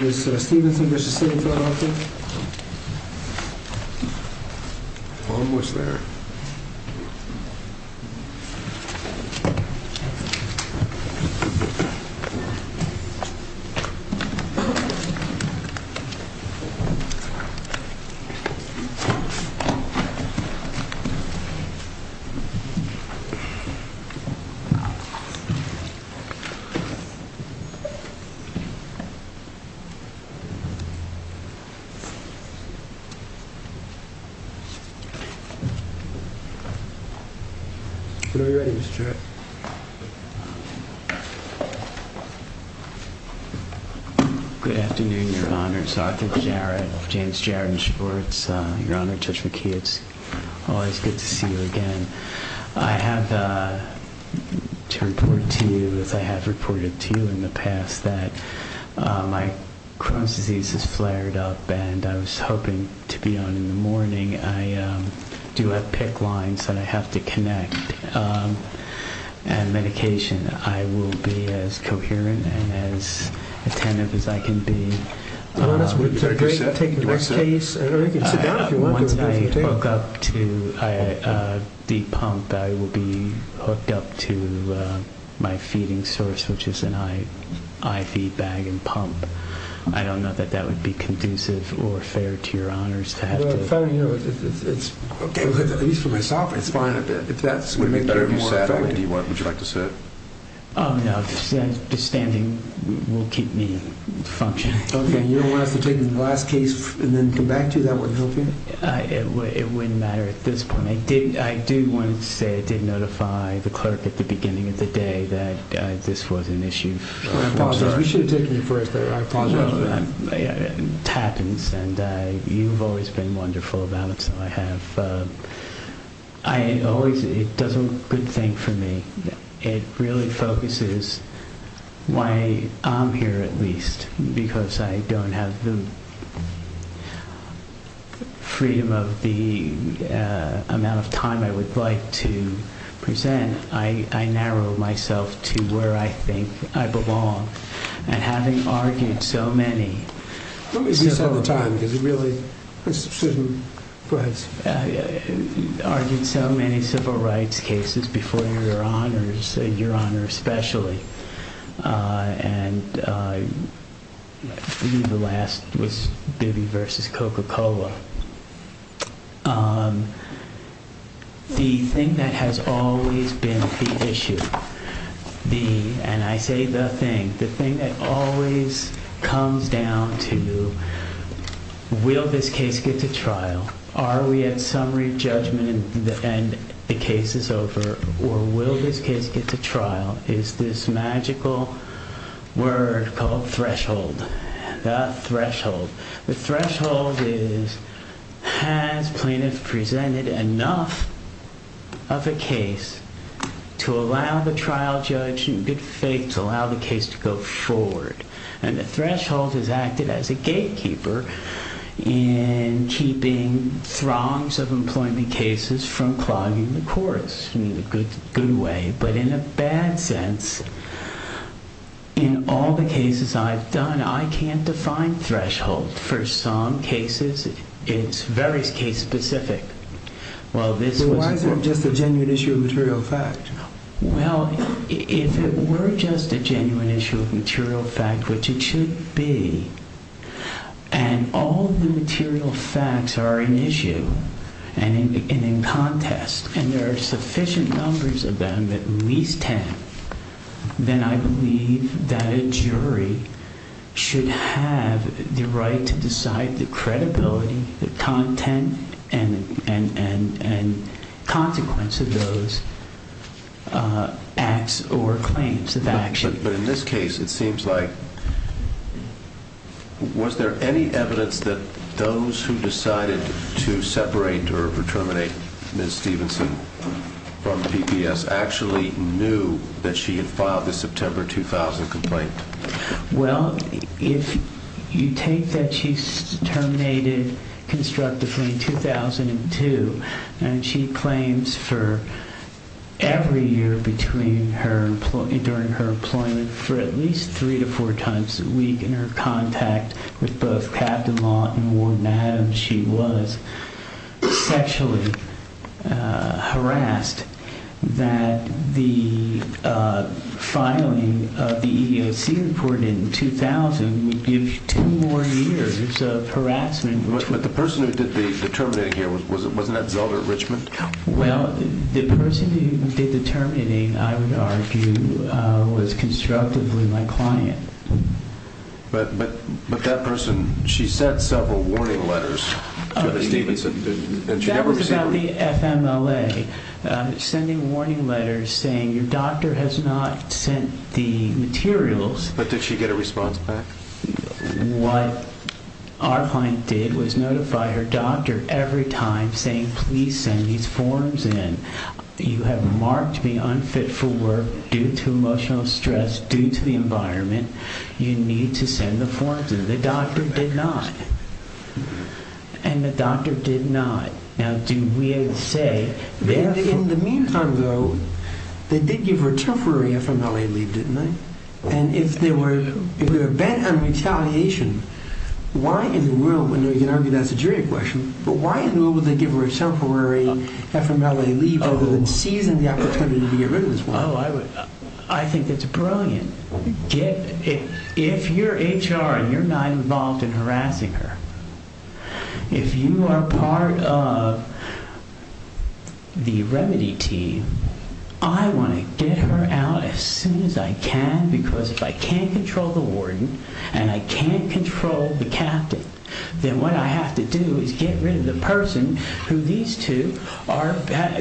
Austin. Stevenson. All right. Good afternoon, your honors, Arthur Jarrett, James Jarrett and Schwartz, your honor, Judge McKee. It's always good to see you again. I have to report to you, as I have reported to you in the past, that my Crohn's disease has flared up and I was hoping to be on in the morning. I do have PICC lines that I have to connect and medication. I will be as coherent and as attentive as I can be. Once I hook up to a deep pump, I will be hooked up to my feeding source, which is an IV bag and pump. I don't know that that would be conducive or fair to your honors. Well, if I were you, it's okay, at least for myself, it's fine, but if that's what would make it more effective, what would you like to say? Oh, no. Just standing will keep me functioning. Okay. You don't want us to take the last case and then come back to you? That wouldn't help you? It wouldn't matter at this point. I do want to say I did notify the clerk at the beginning of the day that this was an issue. I apologize. You should have taken it first. I apologize. It happens, and you've always been wonderful about it, so I have. It does a good thing for me. It really focuses why I'm here, at least, because I don't have the freedom of the amount of time I would like to present. Again, I narrow myself to where I think I belong, and having argued so many civil rights cases before your honors, your honor especially, and the last was Bibby v. Coca-Cola, the thing that has always been the issue, and I say the thing, the thing that always comes down to, will this case get to trial? Are we at summary judgment and the case is over, or will this case get to trial, is this magical word called threshold, the threshold. The threshold is, has plaintiff presented enough of a case to allow the trial judge in good faith to allow the case to go forward, and the threshold has acted as a gatekeeper in keeping throngs of employment cases from clogging the course in a good way, but in a bad sense, in all the cases I've done, I can't define threshold. For some cases, it's very case-specific. Well, this was... But why is it just a genuine issue of material fact? Well, if it were just a genuine issue of material fact, which it should be, and all the material facts are an issue, and in contest, and there are sufficient numbers of them, at least ten, then I believe that a jury should have the right to decide the credibility, the content, and consequence of those acts or claims of action. But in this case, it seems like, was there any evidence that those who decided to separate or terminate Ms. Stevenson from PPS actually knew that she had filed the September 2000 complaint? Well, if you take that she's terminated constructively in 2002, and she claims for every year between her employment, during her employment, for at least three to four times a week in her contact with both Captain Law and Warden Adams, she was sexually harassed, that the filing of the EEOC report in 2000 would give you ten more years of harassment. But the person who did the terminating here, wasn't that Zelda at Richmond? Well, the person who did the terminating, I would argue, was constructively my client. But that person, she sent several warning letters to Ms. Stevenson, and she never received them. That was about the FMLA, sending warning letters saying your doctor has not sent the materials. But did she get a response back? What our client did was notify her doctor every time saying, please send these forms in. You have marked me unfit for work due to emotional stress, due to the environment. You need to send the forms in. The doctor did not. And the doctor did not. Now, do we say this? In the meantime, though, they did give her a temporary FMLA leave, didn't they? And if they were bent on retaliation, why in the world, and you can argue that's a jury question, but why in the world would they give her a temporary FMLA leave rather than seizing the opportunity to get rid of this woman? I think that's brilliant. If you're HR and you're not involved in harassing her, if you are part of the remedy team, I want to get her out as soon as I can, because if I can't control the warden, and I can't control the captain, then what I have to do is get rid of the person who these two are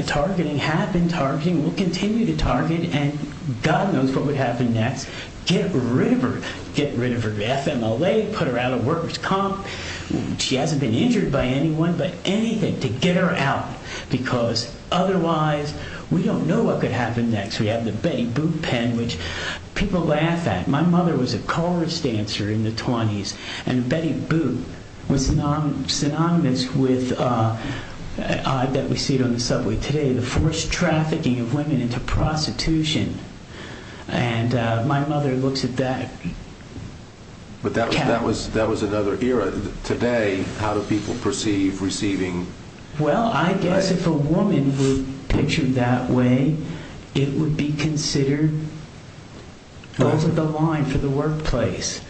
targeting, have been targeting, will continue to target, and God knows what would happen next. Get rid of her. Get rid of her FMLA, put her out of workers' comp. She hasn't been injured by anyone, but anything to get her out, because otherwise, we don't know what could happen next. We have the Betty Boop pen, which people laugh at. My mother was a chorus dancer in the 20s, and Betty Boop was synonymous with, that we see it on the subway today, the forced trafficking of women into prostitution. And my mother looks at that. But that was another era. Today, how do people perceive receiving? Well, I guess if a woman were pictured that way, it would be considered over the line for the workplace.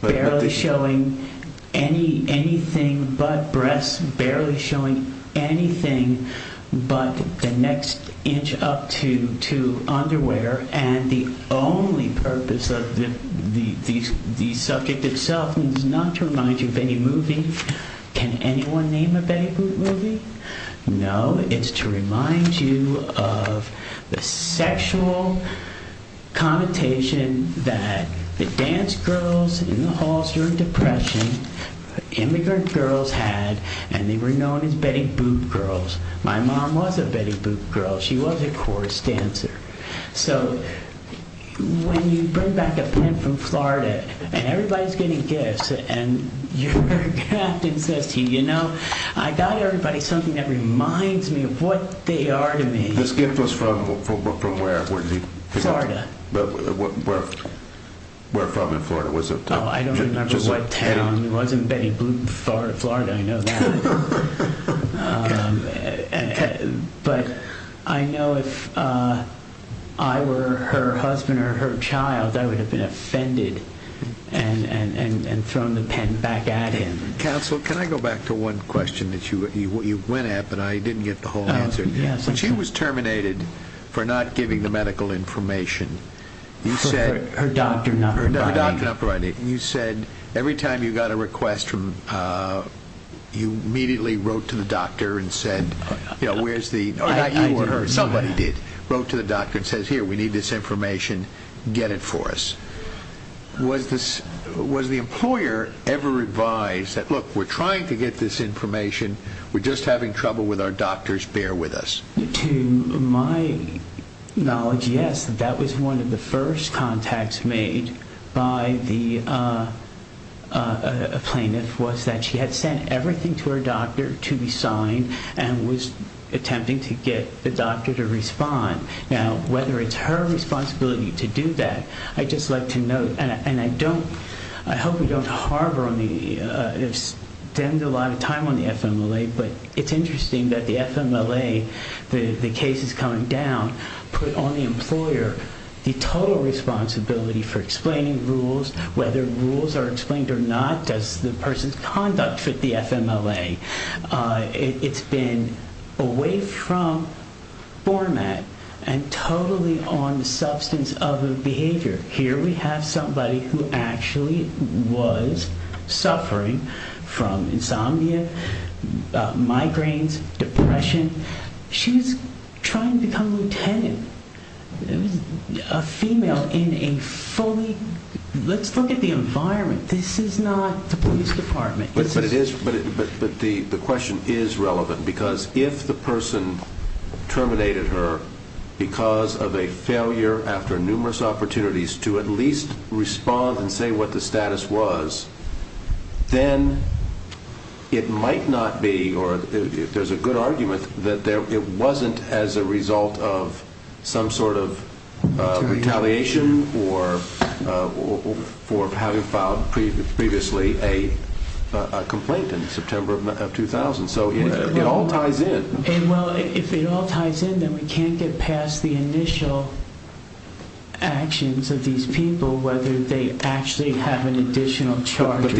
Barely showing anything but breasts, barely showing anything but the next inch up to underwear, and the only purpose of the subject itself is not to remind you of any movie. Can anyone name a Betty Boop movie? No, it's to remind you of the sexual connotation that the dance girls in the halls during depression, immigrant girls had, and they were known as Betty Boop girls. My mom was a Betty Boop girl. She was a chorus dancer. So when you bring back a pen from Florida, and everybody's getting gifts, and your captain says to you, you know, I got everybody something that reminds me of what they are to me. This gift was from where? Florida. Where from in Florida? I don't remember what town. It wasn't Betty Boop, Florida. I know that. But I know if I were her husband or her child, I would have been offended and thrown the pen back at him. Counsel, can I go back to one question that you went at, but I didn't get the whole answer. When she was terminated for not giving the medical information, her doctor not providing it, you said every time you got a request, you immediately wrote to the doctor and said, you know, you or her, somebody did, wrote to the doctor and said, here, we need this information, get it for us. Was the employer ever advised that, look, we're trying to get this information, we're just having trouble with our doctors, bear with us? To my knowledge, yes, that was one of the first contacts made by the plaintiff was that she had sent everything to her doctor to be signed and was attempting to get the doctor to respond. Now, whether it's her responsibility to do that, I just like to note, and I don't, I hope we don't harbor on the, spend a lot of time on the FMLA, but it's interesting that the FMLA, the case is coming down, put on the employer the total responsibility for explaining rules, whether rules are explained or not, does the person's conduct fit the FMLA? It's been away from format and totally on the substance of the behavior. Here we have somebody who actually was suffering from insomnia, migraines, depression. She was trying to become a lieutenant, a female in a fully, let's look at the environment. This is not the police department. But it is, but the question is relevant because if the person terminated her because of a failure after numerous opportunities to at least respond and say what the status was, then it might not be, or there's a good argument that it wasn't as a result of some sort of retaliation or for having filed previously a complaint in September of 2000. So it all ties in. And well, if it all ties in, then we can't get past the initial actions of these people, whether they actually have an additional charge. I was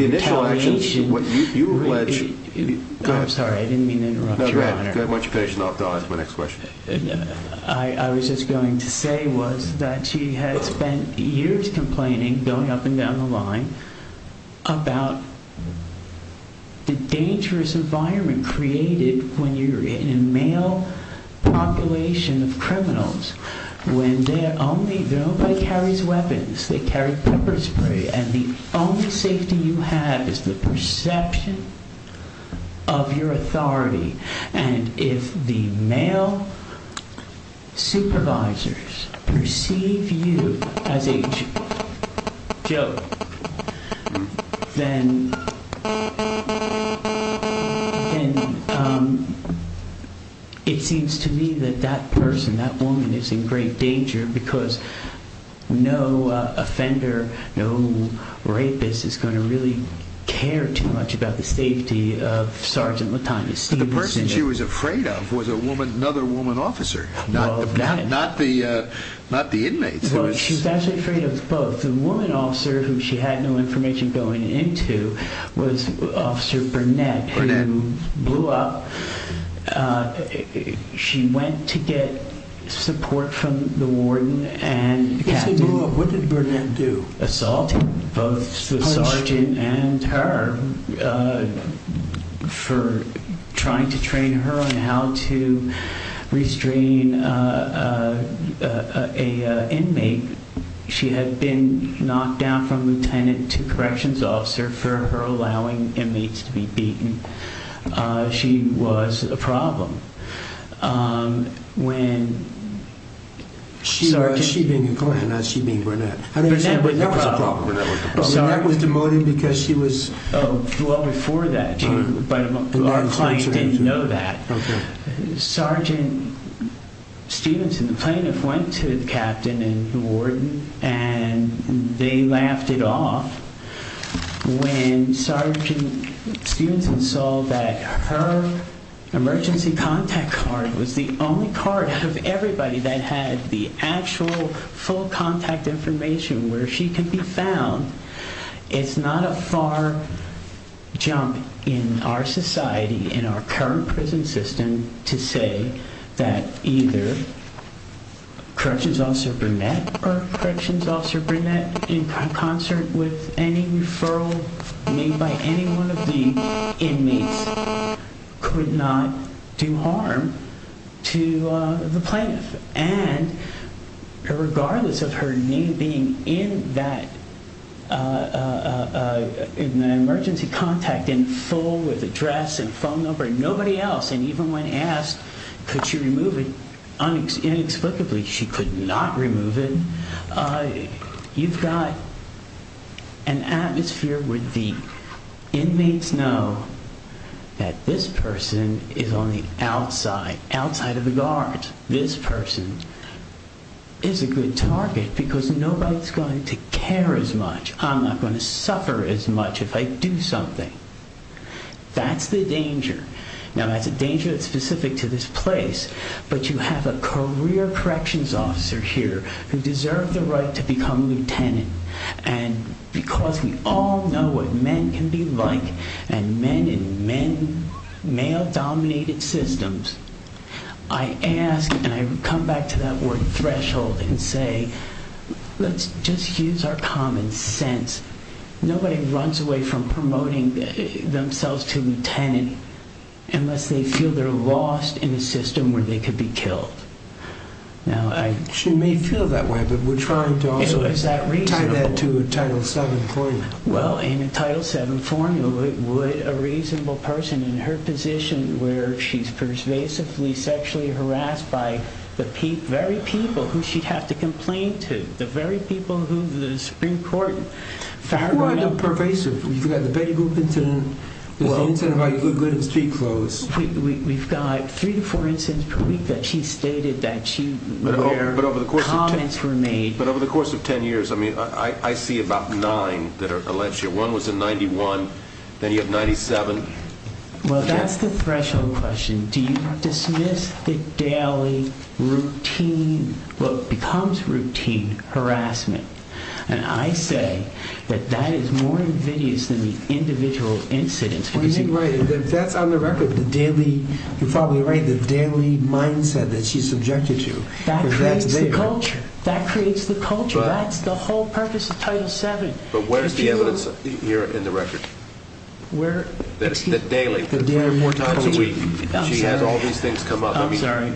just going to say was that she had spent years complaining going up and down the line about the dangerous environment created when you're in a male population of criminals, when nobody carries weapons, they carry pepper spray, and the only safety you have is the then it seems to me that that person, that woman is in great danger because no offender, no rapist is going to really care too much about the safety of Sergeant Latanya. The person she was afraid of was a woman, another woman officer, not the, not the, the woman officer who she had no information going into was Officer Burnett, who blew up. She went to get support from the warden and what did Burnett do? Assaulted both the Sergeant and then knocked down from Lieutenant to corrections officer for her allowing inmates to be beaten. She was a problem. When she, she being a client, not she being Burnett, that was demoted because she was well before that, but our client didn't know that Sergeant Stevenson, the plaintiff went to the captain and the warden and they laughed it off when Sergeant Stevenson saw that her emergency contact card was the only card of everybody that had the actual full contact information where she could be found. It's not a far jump in our society, in our current prison system to say that either Corrections Officer Burnett or Corrections Officer Burnett in concert with any referral made by any one of the inmates could not do harm to the plaintiff and regardless of her name being in that emergency contact in full with address and phone number, nobody else and even when asked could she remove it, inexplicably she could not remove it. You've got an atmosphere where the inmates know that this person is on the outside, outside of the guard. This person is a good target because nobody's going to care as much. I'm not going to suffer as much if I do something. That's the danger. Now that's a danger that's specific to this place, but you have a career Corrections Officer here who deserved the right to become Lieutenant and because we all know what men can be like and men in male-dominated systems, I ask and I come back to that word threshold and say let's just use our common sense. Nobody runs away from promoting themselves to Lieutenant unless they feel they're lost in a system where they could be killed. She may feel that way, but we're trying to also tie that to a Title VII claim. Well in a Title VII form, would a reasonable person in her position where she's pervasively sexually harassed by the very people who she'd have to complain to, the very people who the Supreme Court found pervasive. You've got the Betty Boop incident, the incident of how you look good in street clothes. We've got three to four incidents per week that she stated that she would hear, comments were made. But over the course of 10 years, I mean I see about nine that are alleged. One was in 91, then you have 97. Well that's the threshold question. Do you dismiss the daily routine, what becomes routine harassment? And I say that that is more invidious than the individual incidents. Well you're right, that's on the record. The daily, you're probably right, the daily mindset that she's subjected to. That creates the culture. That creates the culture. That's the whole purpose of Title VII. But where's the evidence here in the record? Where? The daily. The daily culture. She has all these things come up. I'm sorry.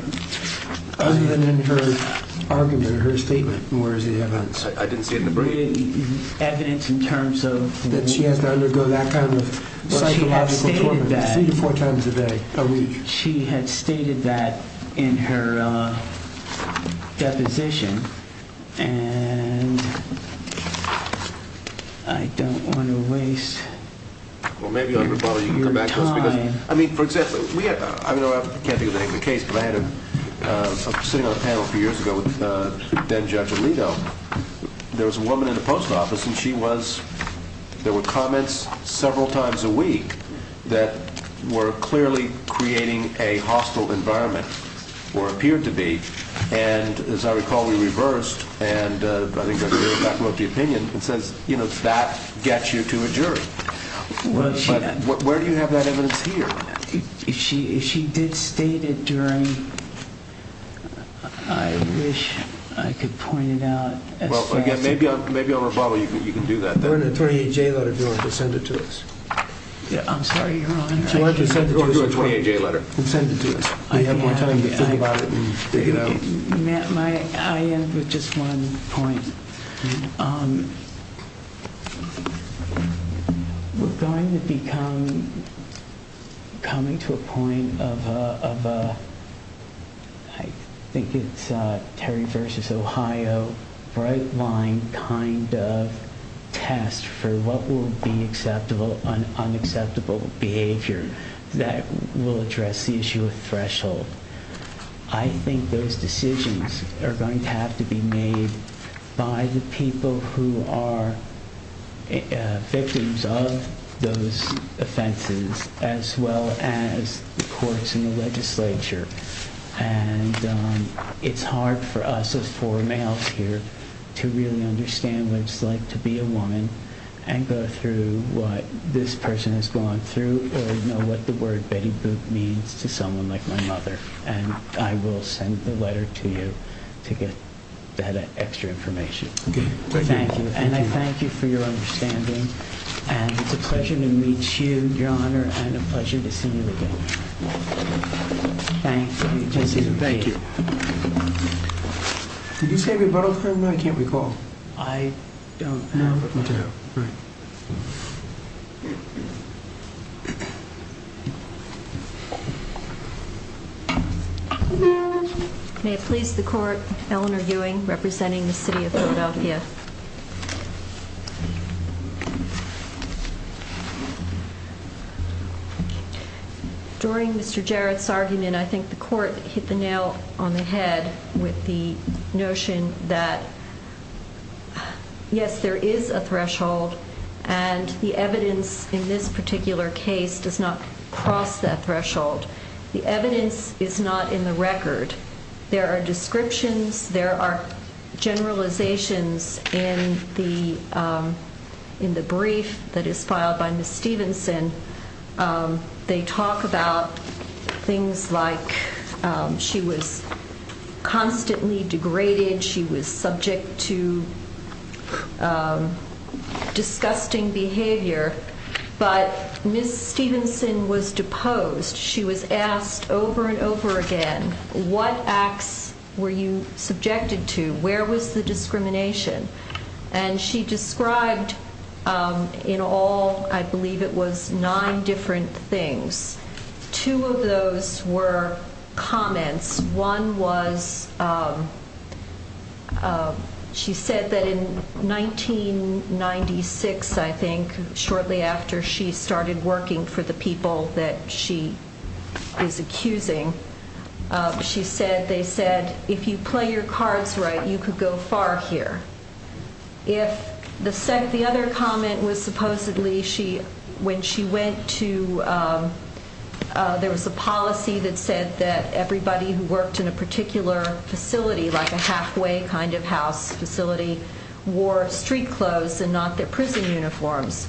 Other than in her argument, her statement, where is the evidence? I didn't see it in the brief. Evidence in terms of? That she has to undergo that kind of psychological torture three to four times a day. She had stated that in her deposition and I don't want to waste your time. I mean for example, we have, I mean I can't think of the name of the case, but I had a, I was sitting on a panel a few years ago with then Judge Alito. There was a woman in the post office and she was, there were comments several times a week that were clearly creating a hostile environment, or appeared to be. And as I recall, we reversed and I think that wrote the opinion and says, you know, that gets you to a jury. But where do you have that evidence here? She, she did state it during, I wish I could point it out. Well again, maybe, maybe on rebuttal you can, you can do that. They're in a 28-J letter, if you want to send it to us. Yeah, I'm sorry, you're on. If you want to send it to us. You're on a 28-J letter. Send it to us. We have more time to think about it and figure it out. I end with just one point. We're going to become, coming to a point of a, I think it's a Terry versus Ohio bright line kind of test for what will be acceptable and unacceptable behavior that will address the issue of threshold. I think those decisions are going to have to be made by the people who are victims of those offenses, as well as the courts and the legislature. And it's hard for us as poor males here to really understand what it's like to be a woman and go through what this person has gone through or know what the word Betty Boop means to someone like my mother. And I will send the letter to you to get that extra information. Thank you. And I thank you for your understanding. And it's a pleasure to meet you, Your Honor. And a pleasure to see you again. Thank you. Did you say rebuttal? No, I can't recall. I don't. May it please the court, Eleanor Ewing, representing the City of Philadelphia. During Mr. Jarrett's argument, I think the court hit the nail on the head with the notion that yes, there is a threshold and the evidence in this particular case does not cross that threshold. The evidence is not in the record. There are descriptions, there are generalizations in the brief that is filed by Ms. Stevenson. They talk about things like she was constantly degraded, she was subject to disgusting behavior, but Ms. Stevenson was deposed. She was asked over and over again, what acts were you subjected to? Where was the discrimination? And she described in all, I believe it was nine different things. Two of those were comments. One was she said that in 1996, I think, shortly after she started working for the people that she is accusing, she said they said, if you play your cards right, you could go far here. If the second, the other comment was supposedly she, when she went to, there was a policy that said that everybody who worked in a particular facility, like a halfway kind of house facility, wore street clothes and not their prison uniforms.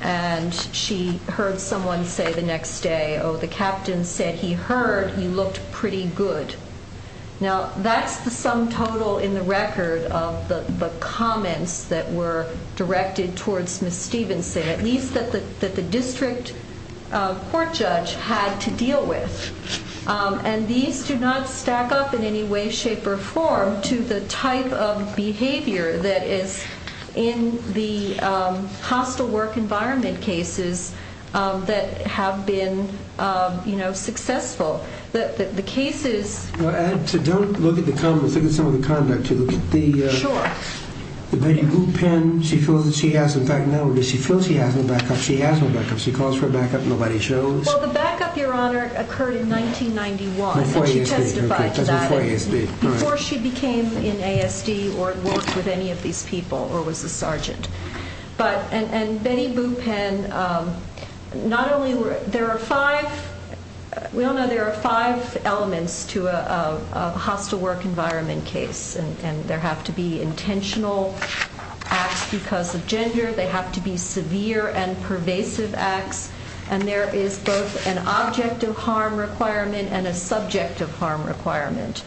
And she heard someone say the next day, the captain said he heard he looked pretty good. Now that's the sum total in the record of the comments that were directed towards Ms. Stevenson, at least that the district court judge had to deal with. And these do not stack up in any way, shape, or form to the type of behavior that is in the hostile work environment cases that have been, you know, successful that the cases. Well, don't look at the comments. Look at some of the conduct to look at the, the Betty Boop pen. She feels that she has, in fact, now that she feels he has no backup, she has no backup. She calls for a backup. Nobody shows. Well, the backup your honor occurred in 1991. She testified to that before she became in ASD or worked with any of these people or was a sergeant, but, and, and Betty Boop. And not only were there five, we all know there are five elements to a hostile work environment case and there have to be intentional acts because of gender, they have to be severe and pervasive acts. And there is both an object of harm requirement and subject of harm requirement.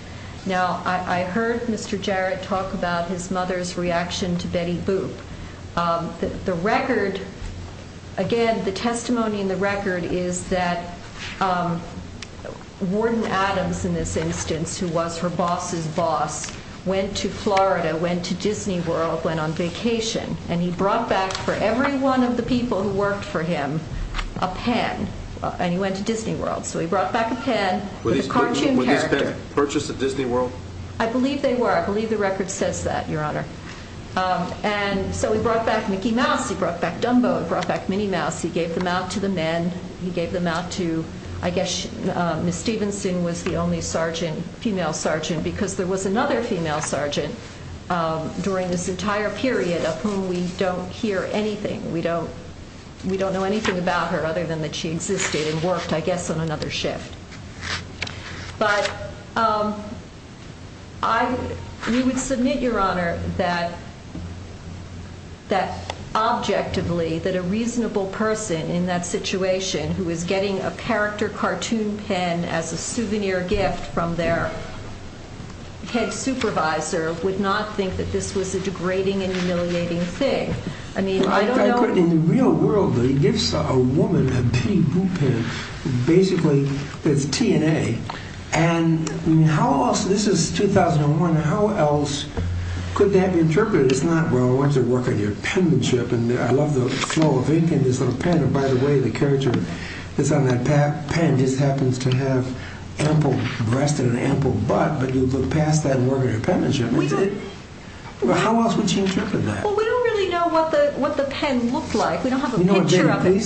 Now I heard Mr. Jarrett talk about his mother's reaction to Betty Boop. The record, again, the testimony in the record is that Warden Adams in this instance, who was her boss's boss, went to Florida, went to Disney World, went on vacation and he brought back for every one of the people who worked for him a pen and he went to Disney World. So he brought back a pen with a cartoon character. Were these purchased at Disney World? I believe they were. I believe the record says that your honor. And so he brought back Mickey Mouse. He brought back Dumbo. He brought back Minnie Mouse. He gave them out to the men. He gave them out to, I guess, Ms. Stevenson was the only sergeant, female sergeant, because there was another female sergeant during this entire period of whom we don't hear anything. We don't, we don't know anything about her other than that she existed and worked, I guess, on another shift. But I, we would submit your honor that, that objectively that a reasonable person in that situation who is getting a character cartoon pen as a souvenir gift from their head supervisor would not think that this was a degrading and humiliating thing. I mean, I don't know. In the real world, though, he gives a woman a pity boo pen. Basically, it's T and A. And how else, this is 2001, how else could that be interpreted? It's not, well, I want you to work on your penmanship. And I love the flow of ink in this little pen. And by the way, the character that's on that pen just happens to have ample breast and an ample butt, but you look past that and work on your penmanship. How else would you interpret that? Well, we don't really know what the, what the pen looked like. We don't have a picture of it.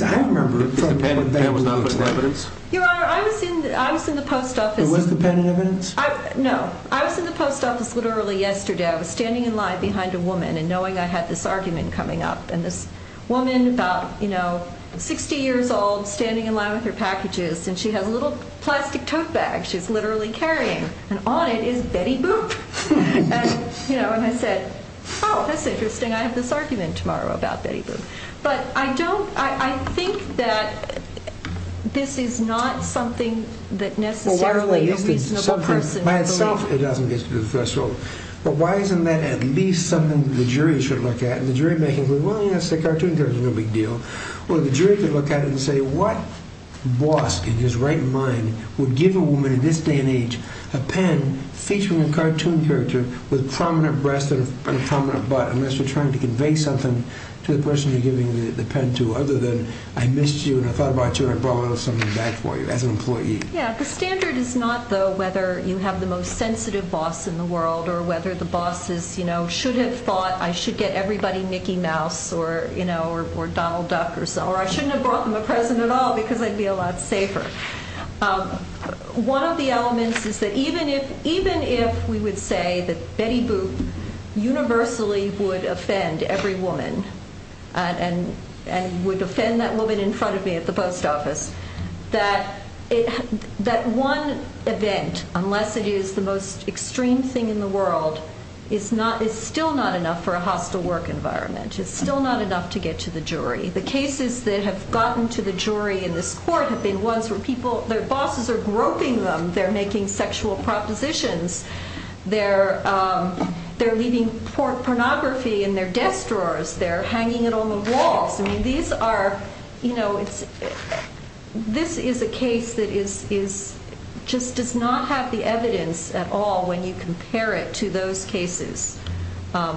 Your honor, I was in, I was in the post office. It was the pen in evidence? No, I was in the post office literally yesterday. I was standing in line behind a woman and knowing I had this argument coming up and this woman about, you know, 60 years old standing in line with her packages and she has a little plastic tote bag she's literally carrying and on it is Betty Boop. And, you know, and I said, oh, that's interesting. I have this argument tomorrow about Betty Boop. But I don't, I think that this is not something that necessarily a reasonable person By itself, it doesn't get to the threshold. But why isn't that at least something the jury should look at? And the jury making, well, yes, a cartoon character is no big deal. Well, the jury could look at it and say, what boss in his right mind would give a woman in this day and age a pen featuring a cartoon character with prominent breast and a prominent butt unless you're trying to convey something to the person you're giving the pen to other than I missed you and I thought about you and I brought something back for you as an employee. Yeah, the standard is not though whether you have the most sensitive boss in the world or whether the boss is, you know, should have thought I should get everybody Mickey Mouse or, you know, or Donald Duck or so, or I shouldn't have brought them a present at all because I'd be a lot safer. One of the elements is that even if we would say that Betty Boop universally would offend every woman and would offend that woman in front of me at the post office, that one event, unless it is the most extreme thing in the world, is still not enough for a hostile work environment. It's still not enough to get to the jury. The cases that have gotten to the jury in this court have been ones where people, their bosses are propositions. They're, they're leaving pornography in their desk drawers. They're hanging it on the walls. I mean, these are, you know, it's, this is a case that is, is, just does not have the evidence at all when you compare it to those cases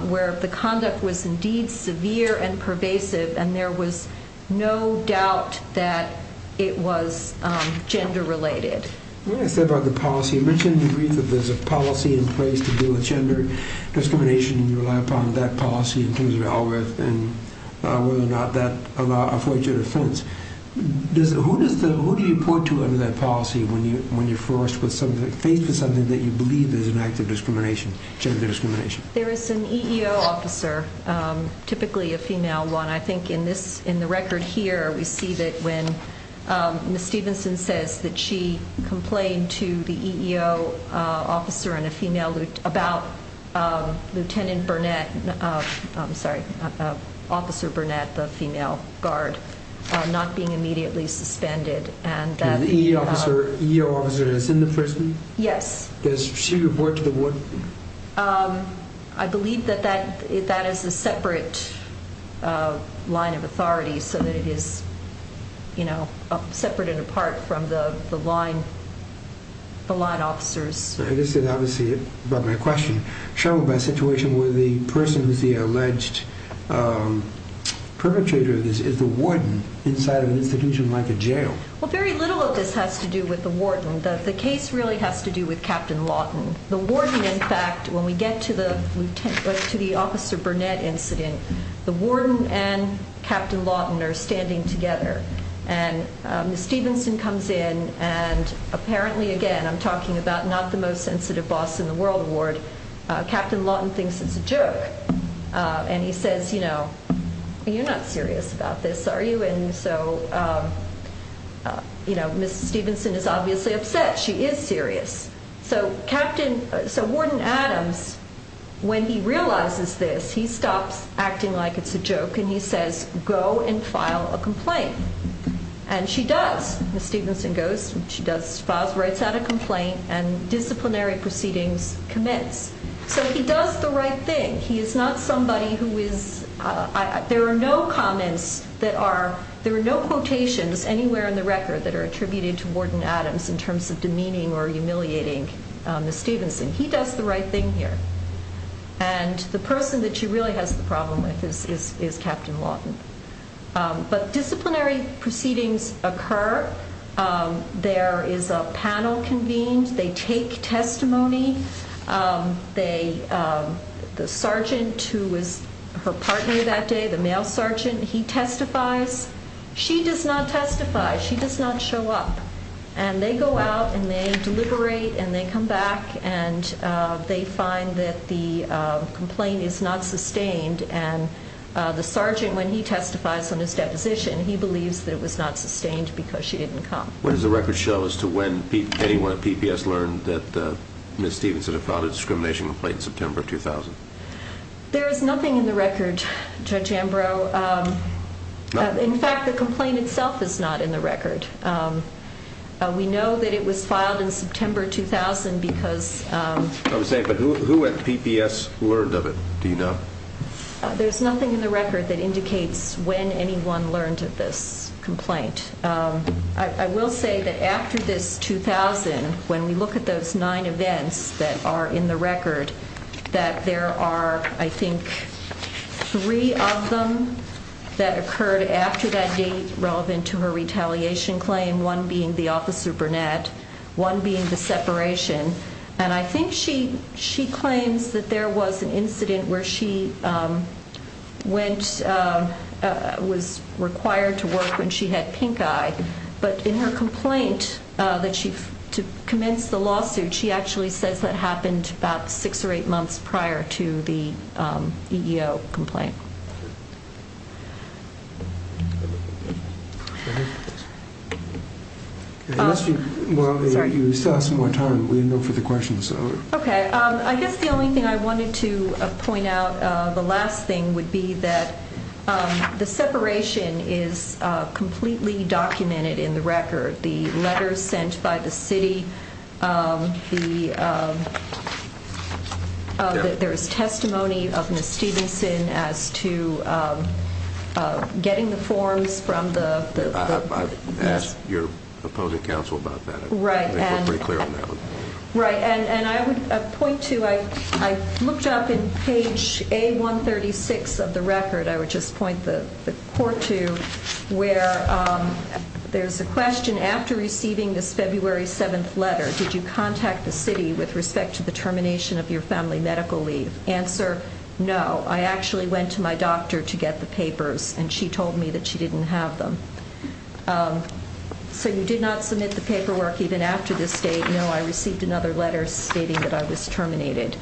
where the conduct was indeed severe and pervasive and there was no doubt that it was gender related. When I said about the policy, you mentioned in brief that there's a policy in place to deal with gender discrimination and you rely upon that policy in terms of Alrath and whether or not that affords you a defense. Does, who does the, who do you point to under that policy when you, when you're forced with something, faced with something that you believe is an act of discrimination, gender discrimination? There is an EEO officer, typically a female one. I think in this, in the record here, we see that when Ms. Stevenson says that she complained to the EEO officer and a female about Lieutenant Burnett, I'm sorry, Officer Burnett, the female guard, not being immediately suspended. And the EEO officer is in the prison? Yes. Does she report to the warden? I believe that that, that is a separate line of authority so that it is, you know, separate and apart from the, the line, the line officers. This is obviously about my question. Showed by situation where the person who's the alleged perpetrator of this is the warden inside of an institution like a jail. Well, very little of this has to do with the warden. The case really has to do with Captain Lawton. The warden, in fact, when we get to the Lieutenant, to the Officer Burnett incident, the warden and Captain Lawton are standing together. And Ms. Stevenson comes in and apparently, again, I'm talking about not the most sensitive boss in the world award. Captain Lawton thinks it's a joke. And he says, you know, you're not serious about this, are you? And so, you know, Ms. Stevenson is obviously upset. She is serious. So Captain, so Warden Adams, when he realizes this, he stops acting like it's a joke and he says, go and file a complaint. And she does. Ms. Stevenson goes, she does, files, writes out a complaint and disciplinary proceedings commence. So he does the right thing. He is not somebody who is, there are no comments that are, there are no quotations anywhere in the record that are attributed to Warden Adams in terms of demeaning or humiliating Ms. Stevenson. He does the right thing here. And the person that she really has the problem with is Captain Lawton. But disciplinary proceedings occur. There is a panel convened. They take testimony. They, the sergeant who was her partner that day, the male sergeant, he testifies. She does not testify. She does not show up. And they go out and they deliberate and they come back and they find that the complaint is not sustained. And the sergeant, when he testifies on his deposition, he believes that it was not sustained because she didn't come. What does the record show as to when anyone at PPS learned that Ms. Stevenson had filed a discrimination complaint in September 2000? There is nothing in the record, Judge Ambrose. In fact, the complaint itself is not in the record. We know that it was filed in September 2000 because... I was saying, but who at PPS learned of it, do you know? There's nothing in the record that indicates when anyone learned of this 2000, when we look at those nine events that are in the record, that there are, I think, three of them that occurred after that date relevant to her retaliation claim, one being the officer Burnett, one being the separation. And I think she claims that there was an incident where she went, was required to work when she had pinkeye. But in her complaint, that she, to commence the lawsuit, she actually says that happened about six or eight months prior to the EEO complaint. Well, you still have some more time. We didn't go for the questions. Okay. I guess the only thing I wanted to point out, the last thing would be that the separation is completely documented in the record. The letters sent by the city, there's testimony of Ms. Stevenson as to getting the forms from the... I've asked your opposing counsel about that. Right. I think we're pretty clear on that one. Right. And I would point to, I looked up in page A136 of the record, I would just point the court to where there's a question, after receiving this February 7th letter, did you contact the city with respect to the termination of your family medical leave? Answer, no. I actually went to my doctor to get the papers and she told me that she didn't have them. Okay. So you did not submit the paperwork even after this date? No. I received another letter stating that I was terminated.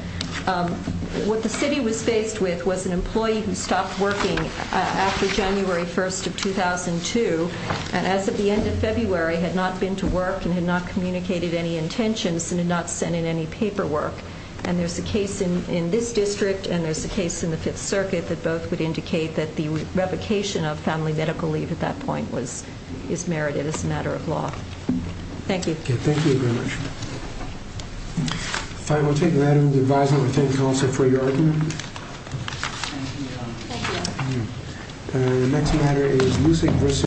What the city was faced with was an employee who stopped working after January 1st of 2002, and as of the end of February, had not been to work and had not communicated any intentions and had not sent in any paperwork. And there's a case in this district and there's a case in the Fifth Circuit that both would indicate that the revocation of family medical leave at that point was, is merited as a matter of law. Thank you. Okay. Thank you very much. Fine. We'll take an item of advisement from the county counsel for your argument. Thank you, Your Honor. Thank you. The next matter is Musick v.